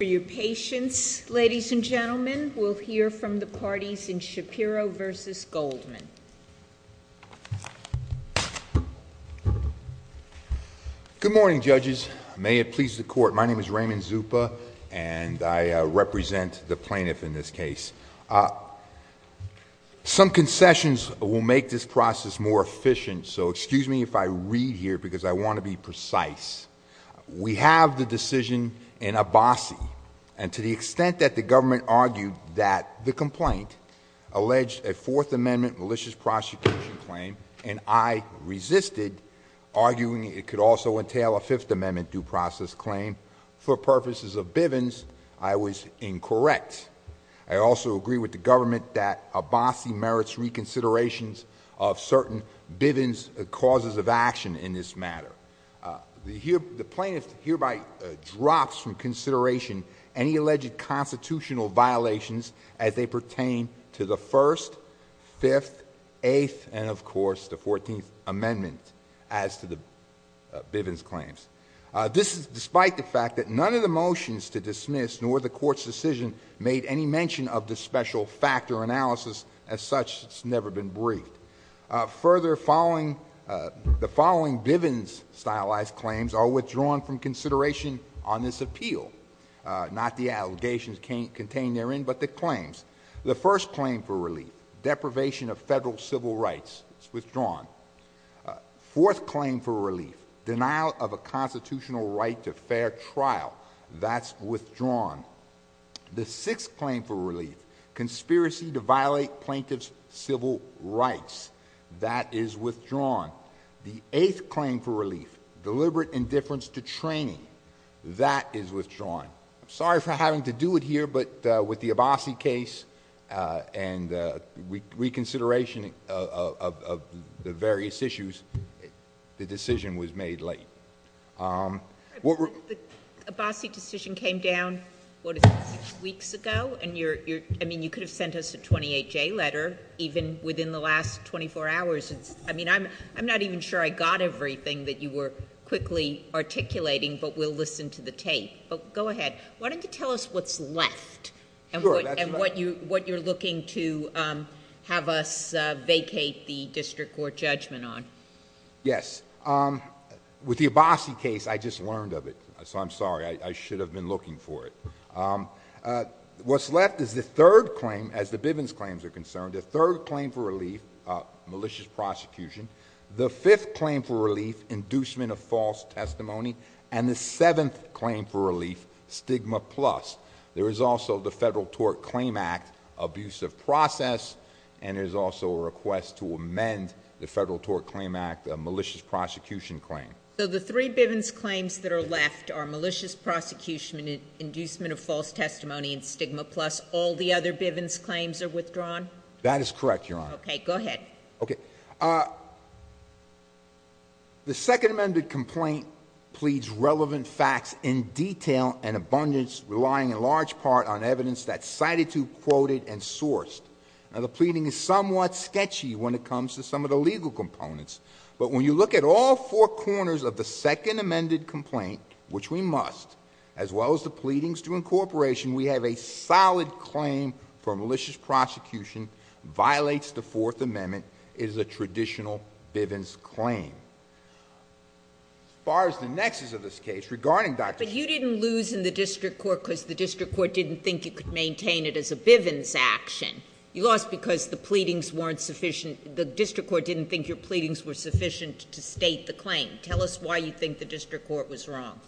For your patience, ladies and gentlemen, we'll hear from the parties in Shapiro v. Goldman. Good morning, judges. May it please the court, my name is Raymond Zupa and I represent the plaintiff in this case. Some concessions will make this process more efficient, so excuse me if I read here because I want to be precise. We have the decision in Abbasi and to the extent that the government argued that the complaint alleged a Fourth Amendment malicious prosecution claim and I resisted arguing it could also entail a Fifth Amendment due process claim for purposes of Bivens, I was incorrect. I also agree with the government that Abbasi merits reconsiderations of certain Bivens causes of action in this matter. The plaintiff hereby drops from consideration any alleged constitutional violations as they pertain to the First, Fifth, Eighth, and of course the Fourteenth Amendment as to the Bivens claims. This is despite the fact that none of the motions to dismiss nor the court's decision made any mention of the special factor analysis as such has never been briefed. Further, the following Bivens stylized claims are withdrawn from consideration on this appeal. Not the allegations contained therein, but the claims. The first claim for relief, deprivation of federal civil rights, is withdrawn. Fourth claim for relief, denial of a constitutional right to fair trial, that's withdrawn. The sixth claim for relief, conspiracy to violate plaintiff's civil rights, that is withdrawn. The eighth claim for relief, deliberate indifference to training, that is withdrawn. I'm sorry for having to do it here, but with the Abbasi case and reconsideration of the various issues, the decision was made late. The Abbasi decision came down, what is it, six weeks ago? You could have sent us a 28-J letter even within the last 24 hours. I'm not even sure I got everything that you were quickly articulating, but we'll listen to the tape. Go ahead. Why don't you tell us what's left and what you're looking to have us vacate the district court judgment on. Yes. With the Abbasi case, I just learned of it, so I'm sorry. I should have been looking for it. What's left is the third claim, as the Bivens claims are concerned, the third claim for relief, malicious prosecution. The fifth claim for relief, inducement of false testimony, and the seventh claim for relief, stigma plus. There is also the Federal Tort Claim Act abusive process, and there's also a request to amend the Federal Tort Claim Act malicious prosecution claim. So the three Bivens claims that are left are malicious prosecution, inducement of false testimony, and stigma plus. All the other Bivens claims are withdrawn? That is correct, Your Honor. Okay, go ahead. Okay. The second amended complaint pleads relevant facts in detail and abundance, relying in large part on evidence that's cited to, quoted, and sourced. Now, the pleading is somewhat sketchy when it comes to some of the legal components, but when you look at all four corners of the second amended complaint, which we must, as well as the pleadings to incorporation, we have a solid claim for malicious prosecution, violates the fourth amendment, is a traditional Bivens claim. As far as the nexus of this case, regarding Dr. But you didn't lose in the district court because the district court didn't think you could maintain it as a Bivens action. You lost because the pleadings weren't sufficient, the district court didn't think your pleadings were sufficient to state the claim. Tell us why you think the district court was wrong.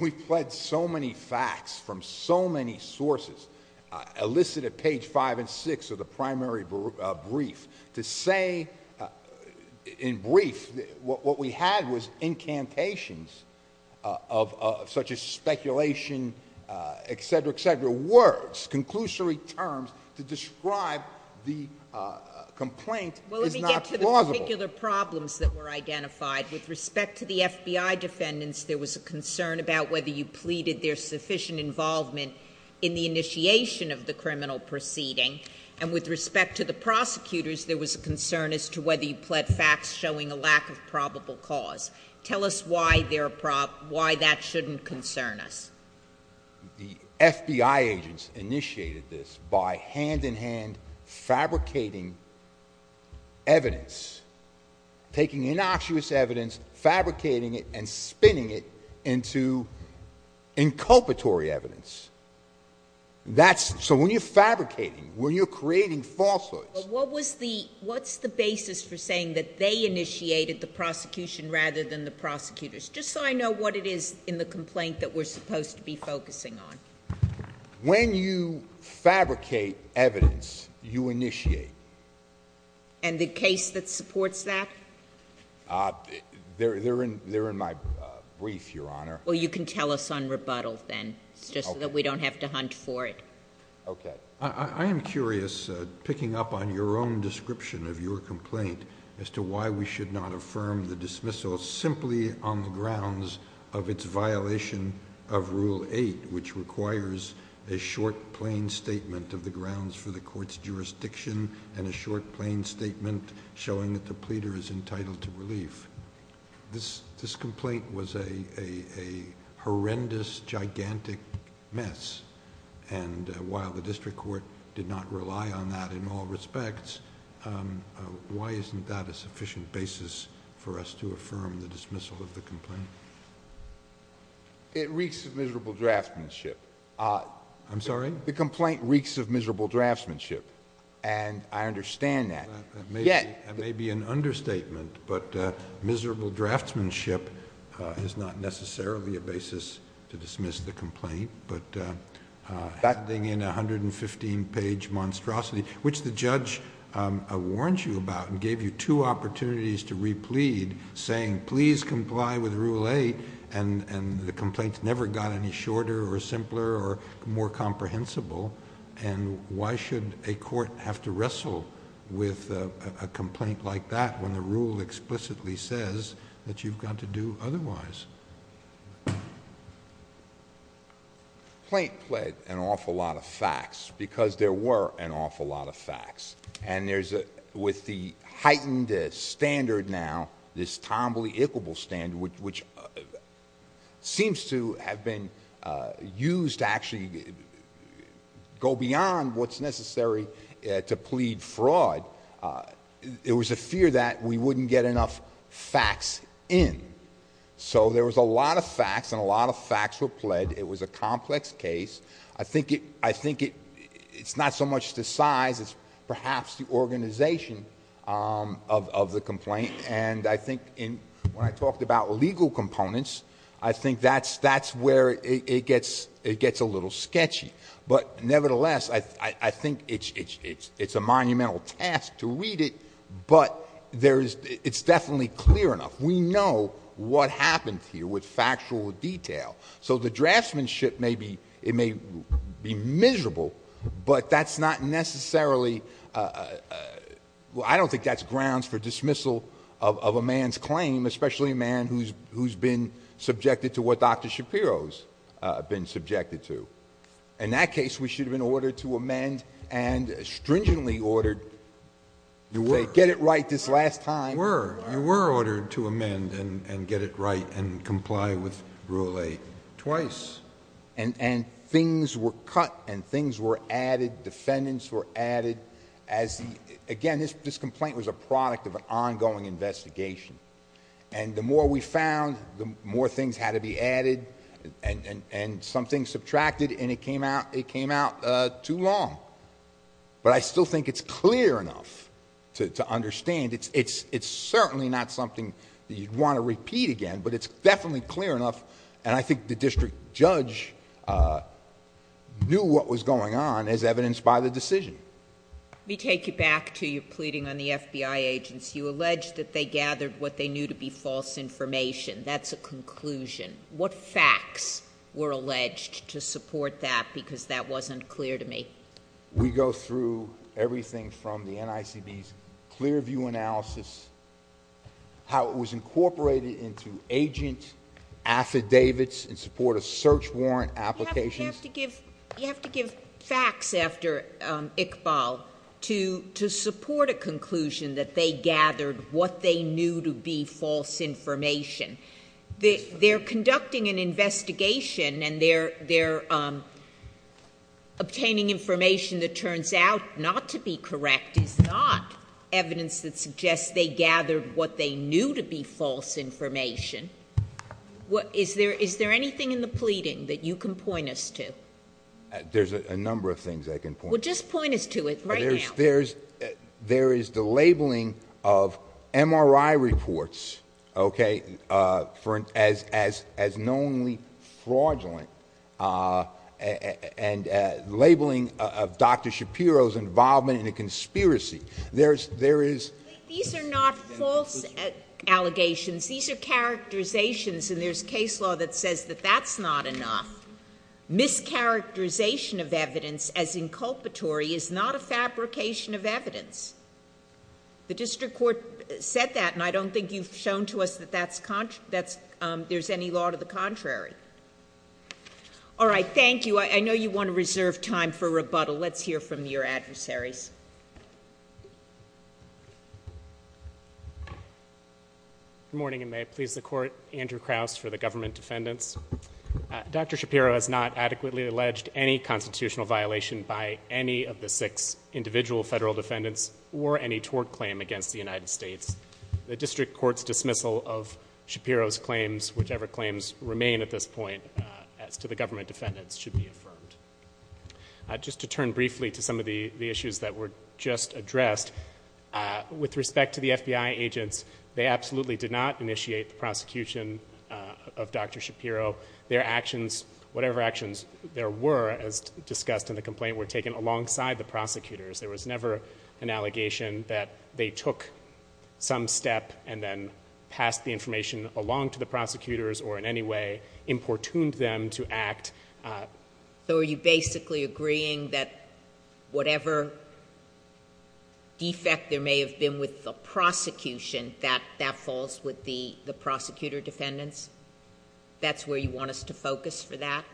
We've pledged so many facts from so many sources, elicited at page five and six of the primary brief, to say, in brief, what we had was incantations of such as speculation, et cetera, et cetera, words, conclusory terms to describe the complaint is not plausible. The particular problems that were identified with respect to the FBI defendants, there was a concern about whether you pleaded their sufficient involvement in the initiation of the criminal proceeding. And with respect to the prosecutors, there was a concern as to whether you pled facts showing a lack of probable cause. Tell us why that shouldn't concern us. The FBI agents initiated this by hand in hand fabricating evidence. Taking innocuous evidence, fabricating it, and spinning it into inculpatory evidence. So when you're fabricating, when you're creating falsehoods. What's the basis for saying that they initiated the prosecution rather than the prosecutors? Just so I know what it is in the complaint that we're supposed to be focusing on. When you fabricate evidence, you initiate. And the case that supports that? They're in my brief, Your Honor. Well, you can tell us on rebuttal then. It's just that we don't have to hunt for it. Okay. I am curious, picking up on your own description of your complaint, as to why we should not affirm the dismissal simply on the grounds of its violation of Rule 8, which requires a short, plain statement of the grounds for the court's jurisdiction, and a short, plain statement showing that the pleader is entitled to relief. This complaint was a horrendous, gigantic mess. And while the district court did not rely on that in all respects, why isn't that a sufficient basis for us to affirm the dismissal of the complaint? It reeks of miserable draftsmanship. I'm sorry? The complaint reeks of miserable draftsmanship, and I understand that. That may be an understatement, but miserable draftsmanship is not necessarily a basis to dismiss the complaint. But that thing in a 115-page monstrosity, which the judge warned you about and gave you two opportunities to replead, saying, please comply with Rule 8, and the complaint never got any shorter or simpler or more comprehensible. Why should a court have to wrestle with a complaint like that when the rule explicitly says that you've got to do otherwise? The complaint pled an awful lot of facts, because there were an awful lot of facts. And with the heightened standard now, this tombly, equable standard, which seems to have been used to actually go beyond what's necessary to plead fraud, it was a fear that we wouldn't get enough facts in. So there was a lot of facts, and a lot of facts were pled. It was a complex case. I think it's not so much the size, it's perhaps the organization of the complaint. And I think when I talked about legal components, I think that's where it gets a little sketchy. But nevertheless, I think it's a monumental task to read it, but it's definitely clear enough. We know what happened here with factual detail. So the draftsmanship, it may be miserable, but that's not necessarily ---- I don't think that's grounds for dismissal of a man's claim, especially a man who's been subjected to what Dr. Shapiro's been subjected to. In that case, we should have been ordered to amend and stringently ordered to get it right this last time. You were. You were ordered to amend and get it right and comply with Rule 8 twice. And things were cut, and things were added, defendants were added. Again, this complaint was a product of an ongoing investigation. And the more we found, the more things had to be added, and some things subtracted, and it came out too long. But I still think it's clear enough to understand. It's certainly not something that you'd want to repeat again, but it's definitely clear enough, and I think the district judge knew what was going on as evidenced by the decision. Let me take you back to your pleading on the FBI agents. You alleged that they gathered what they knew to be false information. That's a conclusion. What facts were alleged to support that, because that wasn't clear to me? We go through everything from the NICB's clear view analysis, how it was incorporated into agent affidavits in support of search warrant applications. You have to give facts after Iqbal to support a conclusion that they gathered what they knew to be false information. They're conducting an investigation, and they're obtaining information that turns out not to be correct. It's not evidence that suggests they gathered what they knew to be false information. Is there anything in the pleading that you can point us to? There's a number of things I can point to. Well, just point us to it right now. There is the labeling of MRI reports as knowingly fraudulent, and labeling of Dr. Shapiro's involvement in a conspiracy. These are not false allegations. These are characterizations, and there's case law that says that that's not enough. Mischaracterization of evidence as inculpatory is not a fabrication of evidence. The district court said that, and I don't think you've shown to us that there's any law to the contrary. All right, thank you. I know you want to reserve time for rebuttal. Let's hear from your adversaries. Good morning, and may it please the Court, Andrew Krauss for the government defendants. Dr. Shapiro has not adequately alleged any constitutional violation by any of the six individual federal defendants or any tort claim against the United States. The district court's dismissal of Shapiro's claims, whichever claims remain at this point as to the government defendants, should be affirmed. Just to turn briefly to some of the issues that were just addressed, with respect to the FBI agents, they absolutely did not initiate the prosecution of Dr. Shapiro. Their actions, whatever actions there were as discussed in the complaint, were taken alongside the prosecutors. There was never an allegation that they took some step and then passed the information along to the prosecutors or in any way importuned them to act. So are you basically agreeing that whatever defect there may have been with the prosecution, that that falls with the prosecutor defendants? That's where you want us to focus for that?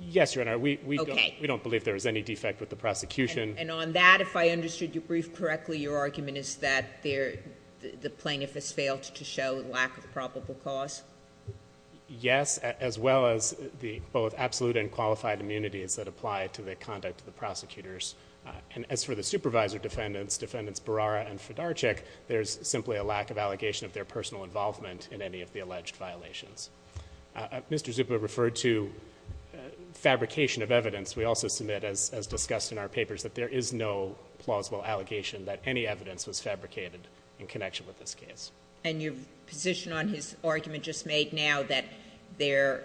Yes, Your Honor. Okay. We don't believe there was any defect with the prosecution. And on that, if I understood your brief correctly, your argument is that the plaintiff has failed to show lack of probable cause? Yes, as well as the both absolute and qualified immunities that apply to the conduct of the prosecutors. And as for the supervisor defendants, defendants Barara and Fedarchik, there's simply a lack of allegation of their personal involvement in any of the alleged violations. Mr. Zupa referred to fabrication of evidence. We also submit, as discussed in our papers, that there is no plausible allegation that any evidence was fabricated in connection with this case. And your position on his argument just made now that their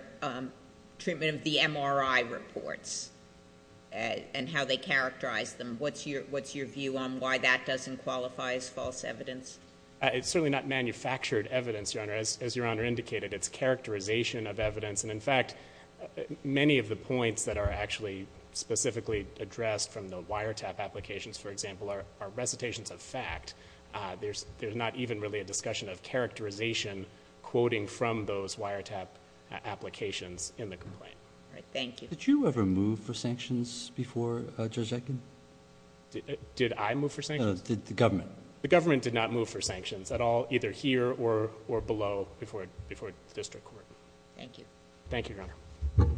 treatment of the MRI reports and how they characterize them, what's your view on why that doesn't qualify as false evidence? It's certainly not manufactured evidence, Your Honor. As Your Honor indicated, it's characterization of evidence. And, in fact, many of the points that are actually specifically addressed from the wiretap applications, for example, are recitations of fact. There's not even really a discussion of characterization quoting from those wiretap applications in the complaint. All right. Thank you. Did you ever move for sanctions before, Judge Etkin? Did I move for sanctions? No, the government. The government did not move for sanctions at all, either here or below, before the district court. Thank you. Thank you, Your Honor.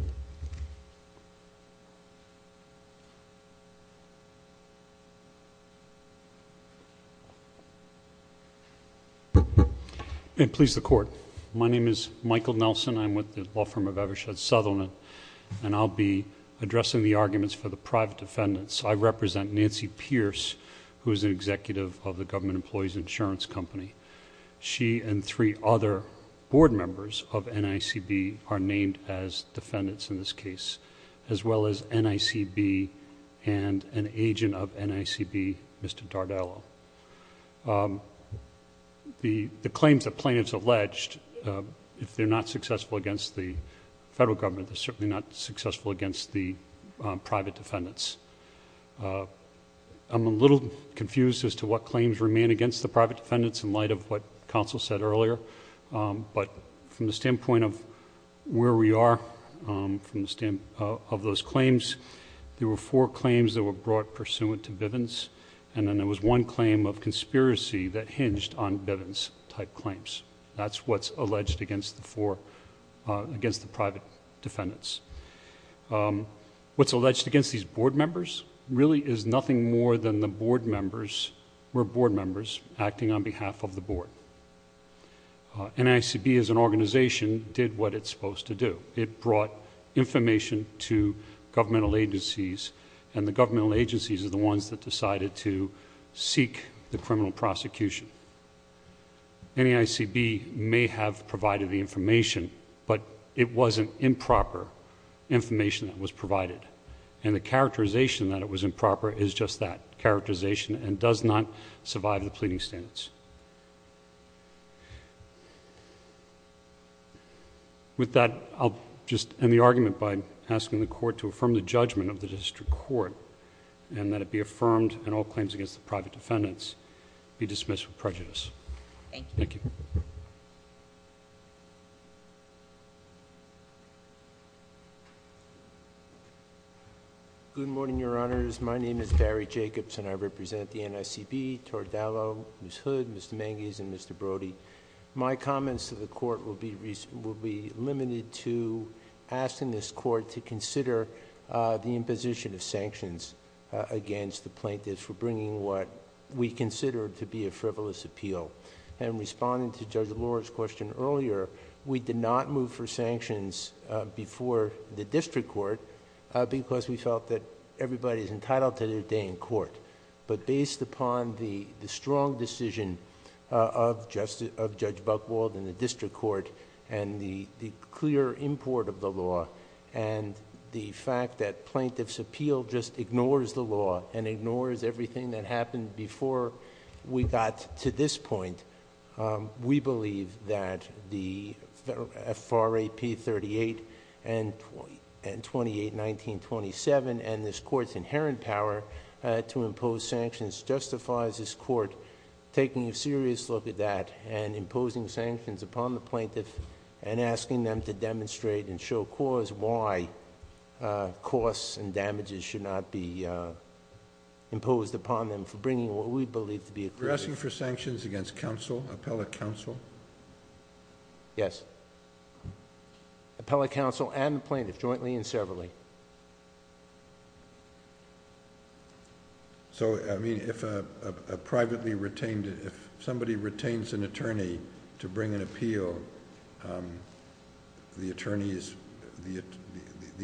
May it please the Court. My name is Michael Nelson. I'm with the law firm of Evershed Southerland, and I'll be addressing the arguments for the private defendants. I represent Nancy Pierce, who is an executive of the Government Employees Insurance Company. She and three other board members of NICB are named as defendants in this case, as well as NICB and an agent of NICB, Mr. Dardello. The claims that plaintiffs alleged, if they're not successful against the federal government, they're certainly not successful against the private defendants. I'm a little confused as to what claims remain against the private defendants in light of what counsel said earlier, but from the standpoint of where we are, of those claims, there were four claims that were brought pursuant to Bivens, and then there was one claim of conspiracy that hinged on Bivens-type claims. That's what's alleged against the private defendants. What's alleged against these board members really is nothing more than the board members... NICB as an organization did what it's supposed to do. It brought information to governmental agencies, and the governmental agencies are the ones that decided to seek the criminal prosecution. NICB may have provided the information, but it wasn't improper information that was provided, and the characterization that it was improper is just that, characterization and does not survive the pleading standards. With that, I'll just end the argument by asking the court to affirm the judgment of the district court and that it be affirmed and all claims against the private defendants be dismissed with prejudice. Thank you. Thank you. Good morning, Your Honors. My name is Barry Jacobs, and I represent the NICB, Tordello, Ms. Hood, Mr. Manges, and Mr. Brody. My comments to the court will be limited to asking this court to consider the imposition of sanctions against the plaintiffs for bringing what we consider to be a frivolous appeal. Responding to Judge Lora's question earlier, we did not move for sanctions before the district court because we felt that everybody's entitled to their day in court. Based upon the strong decision of Judge Buchwald and the district court and the clear import of the law and the fact that plaintiff's appeal just ignores the law and ignores everything that happened before we got to this point, we believe that the FRAP 38 and 28, 1927 and this court's inherent power to impose sanctions justifies this court taking a serious look at that and imposing sanctions upon the plaintiff and asking them to demonstrate and show cause why costs and damages should not be imposed upon them for bringing what we believe to be a... You're asking for sanctions against counsel, appellate counsel? Yes. Appellate counsel and plaintiff, jointly and severally. If somebody retains an attorney to bring an appeal, the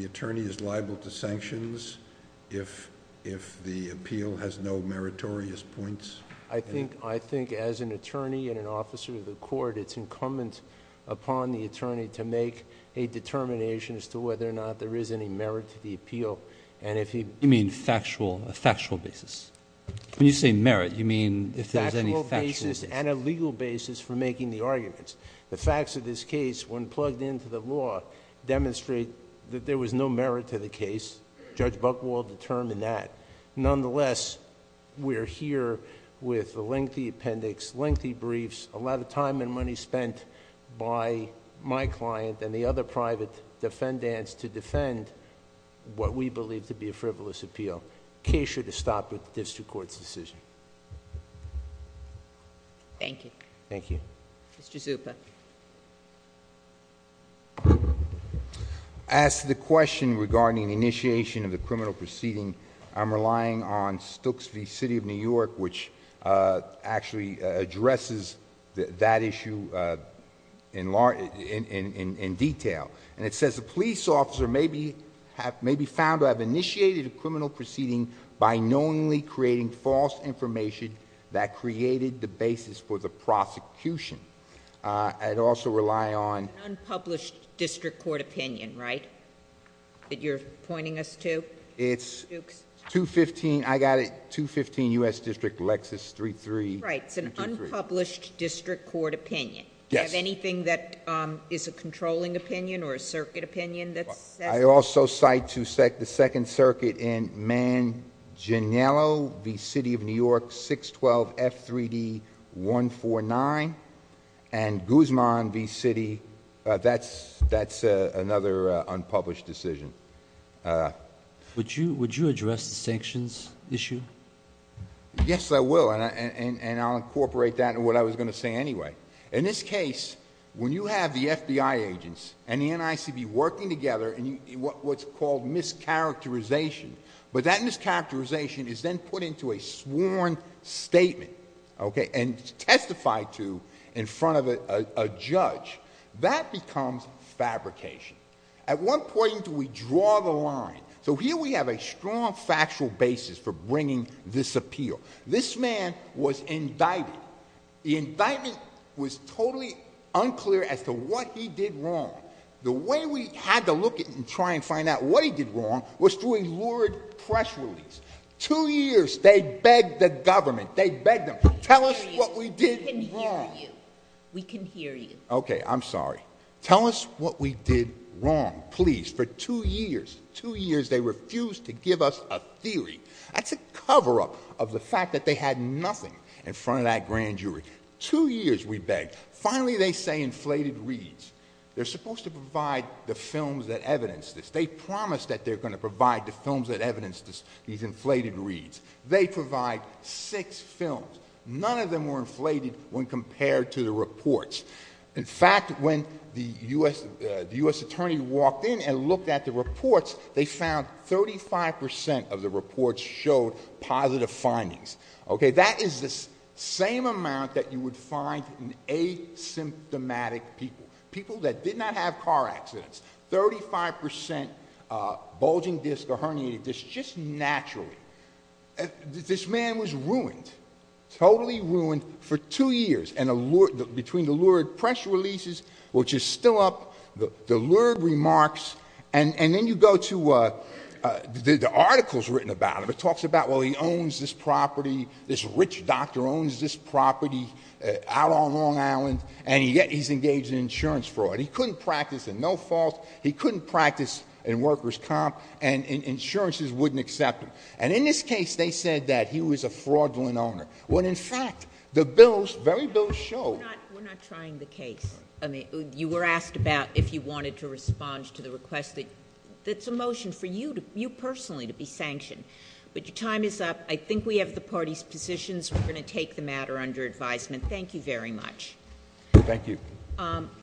attorney is liable to sanctions if the appeal has no meritorious points? I think as an attorney and an officer of the court, it's incumbent upon the attorney to make a determination as to whether or not there is any merit to the appeal and if he... You mean factual, a factual basis? When you say merit, you mean if there's any factual... Factual basis and a legal basis for making the arguments. The facts of this case, when plugged into the law, demonstrate that there was no merit to the case. Judge Buchwald determined that. Nonetheless, we're here with the lengthy appendix, lengthy briefs, a lot of time and money spent by my client and the other private defendants to defend what we believe to be a frivolous appeal. The case should have stopped with the district court's decision. Thank you. Thank you. Mr. Zuppa. As to the question regarding initiation of the criminal proceeding, I'm relying on Stooks v. City of New York, which actually addresses that issue in detail. And it says the police officer may be found to have initiated a criminal proceeding by knowingly creating false information that created the basis for the prosecution. I'd also rely on... An unpublished district court opinion, right, that you're pointing us to? It's 215, I got it, 215 U.S. District, Lexus 33. Right. It's an unpublished district court opinion. Yes. Do you have anything that is a controlling opinion or a circuit opinion that says... I also cite to the Second Circuit in Manginello v. City of New York, 612 F3D 149, and Guzman v. City, that's another unpublished decision. Would you address the sanctions issue? Yes, I will, and I'll incorporate that in what I was going to say anyway. In this case, when you have the FBI agents and the NICB working together in what's called mischaracterization, but that mischaracterization is then put into a sworn statement, okay, and testified to in front of a judge, that becomes fabrication. At what point do we draw the line? So here we have a strong factual basis for bringing this appeal. This man was indicted. The indictment was totally unclear as to what he did wrong. The way we had to look at and try and find out what he did wrong was through a lured press release. Two years, they begged the government. They begged them, tell us what we did wrong. We can hear you. We can hear you. Okay, I'm sorry. Tell us what we did wrong, please, for two years. Two years, they refused to give us a theory. That's a cover-up of the fact that they had nothing in front of that grand jury. Two years, we begged. Finally, they say inflated reads. They're supposed to provide the films that evidence this. They promised that they're going to provide the films that evidence these inflated reads. They provide six films. None of them were inflated when compared to the reports. In fact, when the U.S. attorney walked in and looked at the reports, they found 35% of the reports showed positive findings. Okay, that is the same amount that you would find in asymptomatic people, people that did not have car accidents, 35% bulging discs or herniated discs, just naturally. This man was ruined, totally ruined for two years. And between the lured press releases, which is still up, the lured remarks, and then you go to the articles written about him. It talks about, well, he owns this property, this rich doctor owns this property out on Long Island, and yet he's engaged in insurance fraud. He couldn't practice and no fault. He couldn't practice in workers' comp, and insurances wouldn't accept him. And in this case, they said that he was a fraudulent owner. When, in fact, the bills, the very bills show. We're not trying the case. You were asked about if you wanted to respond to the request. That's a motion for you personally to be sanctioned. But your time is up. I think we have the parties' positions. We're going to take the matter under advisement. Thank you very much. Thank you.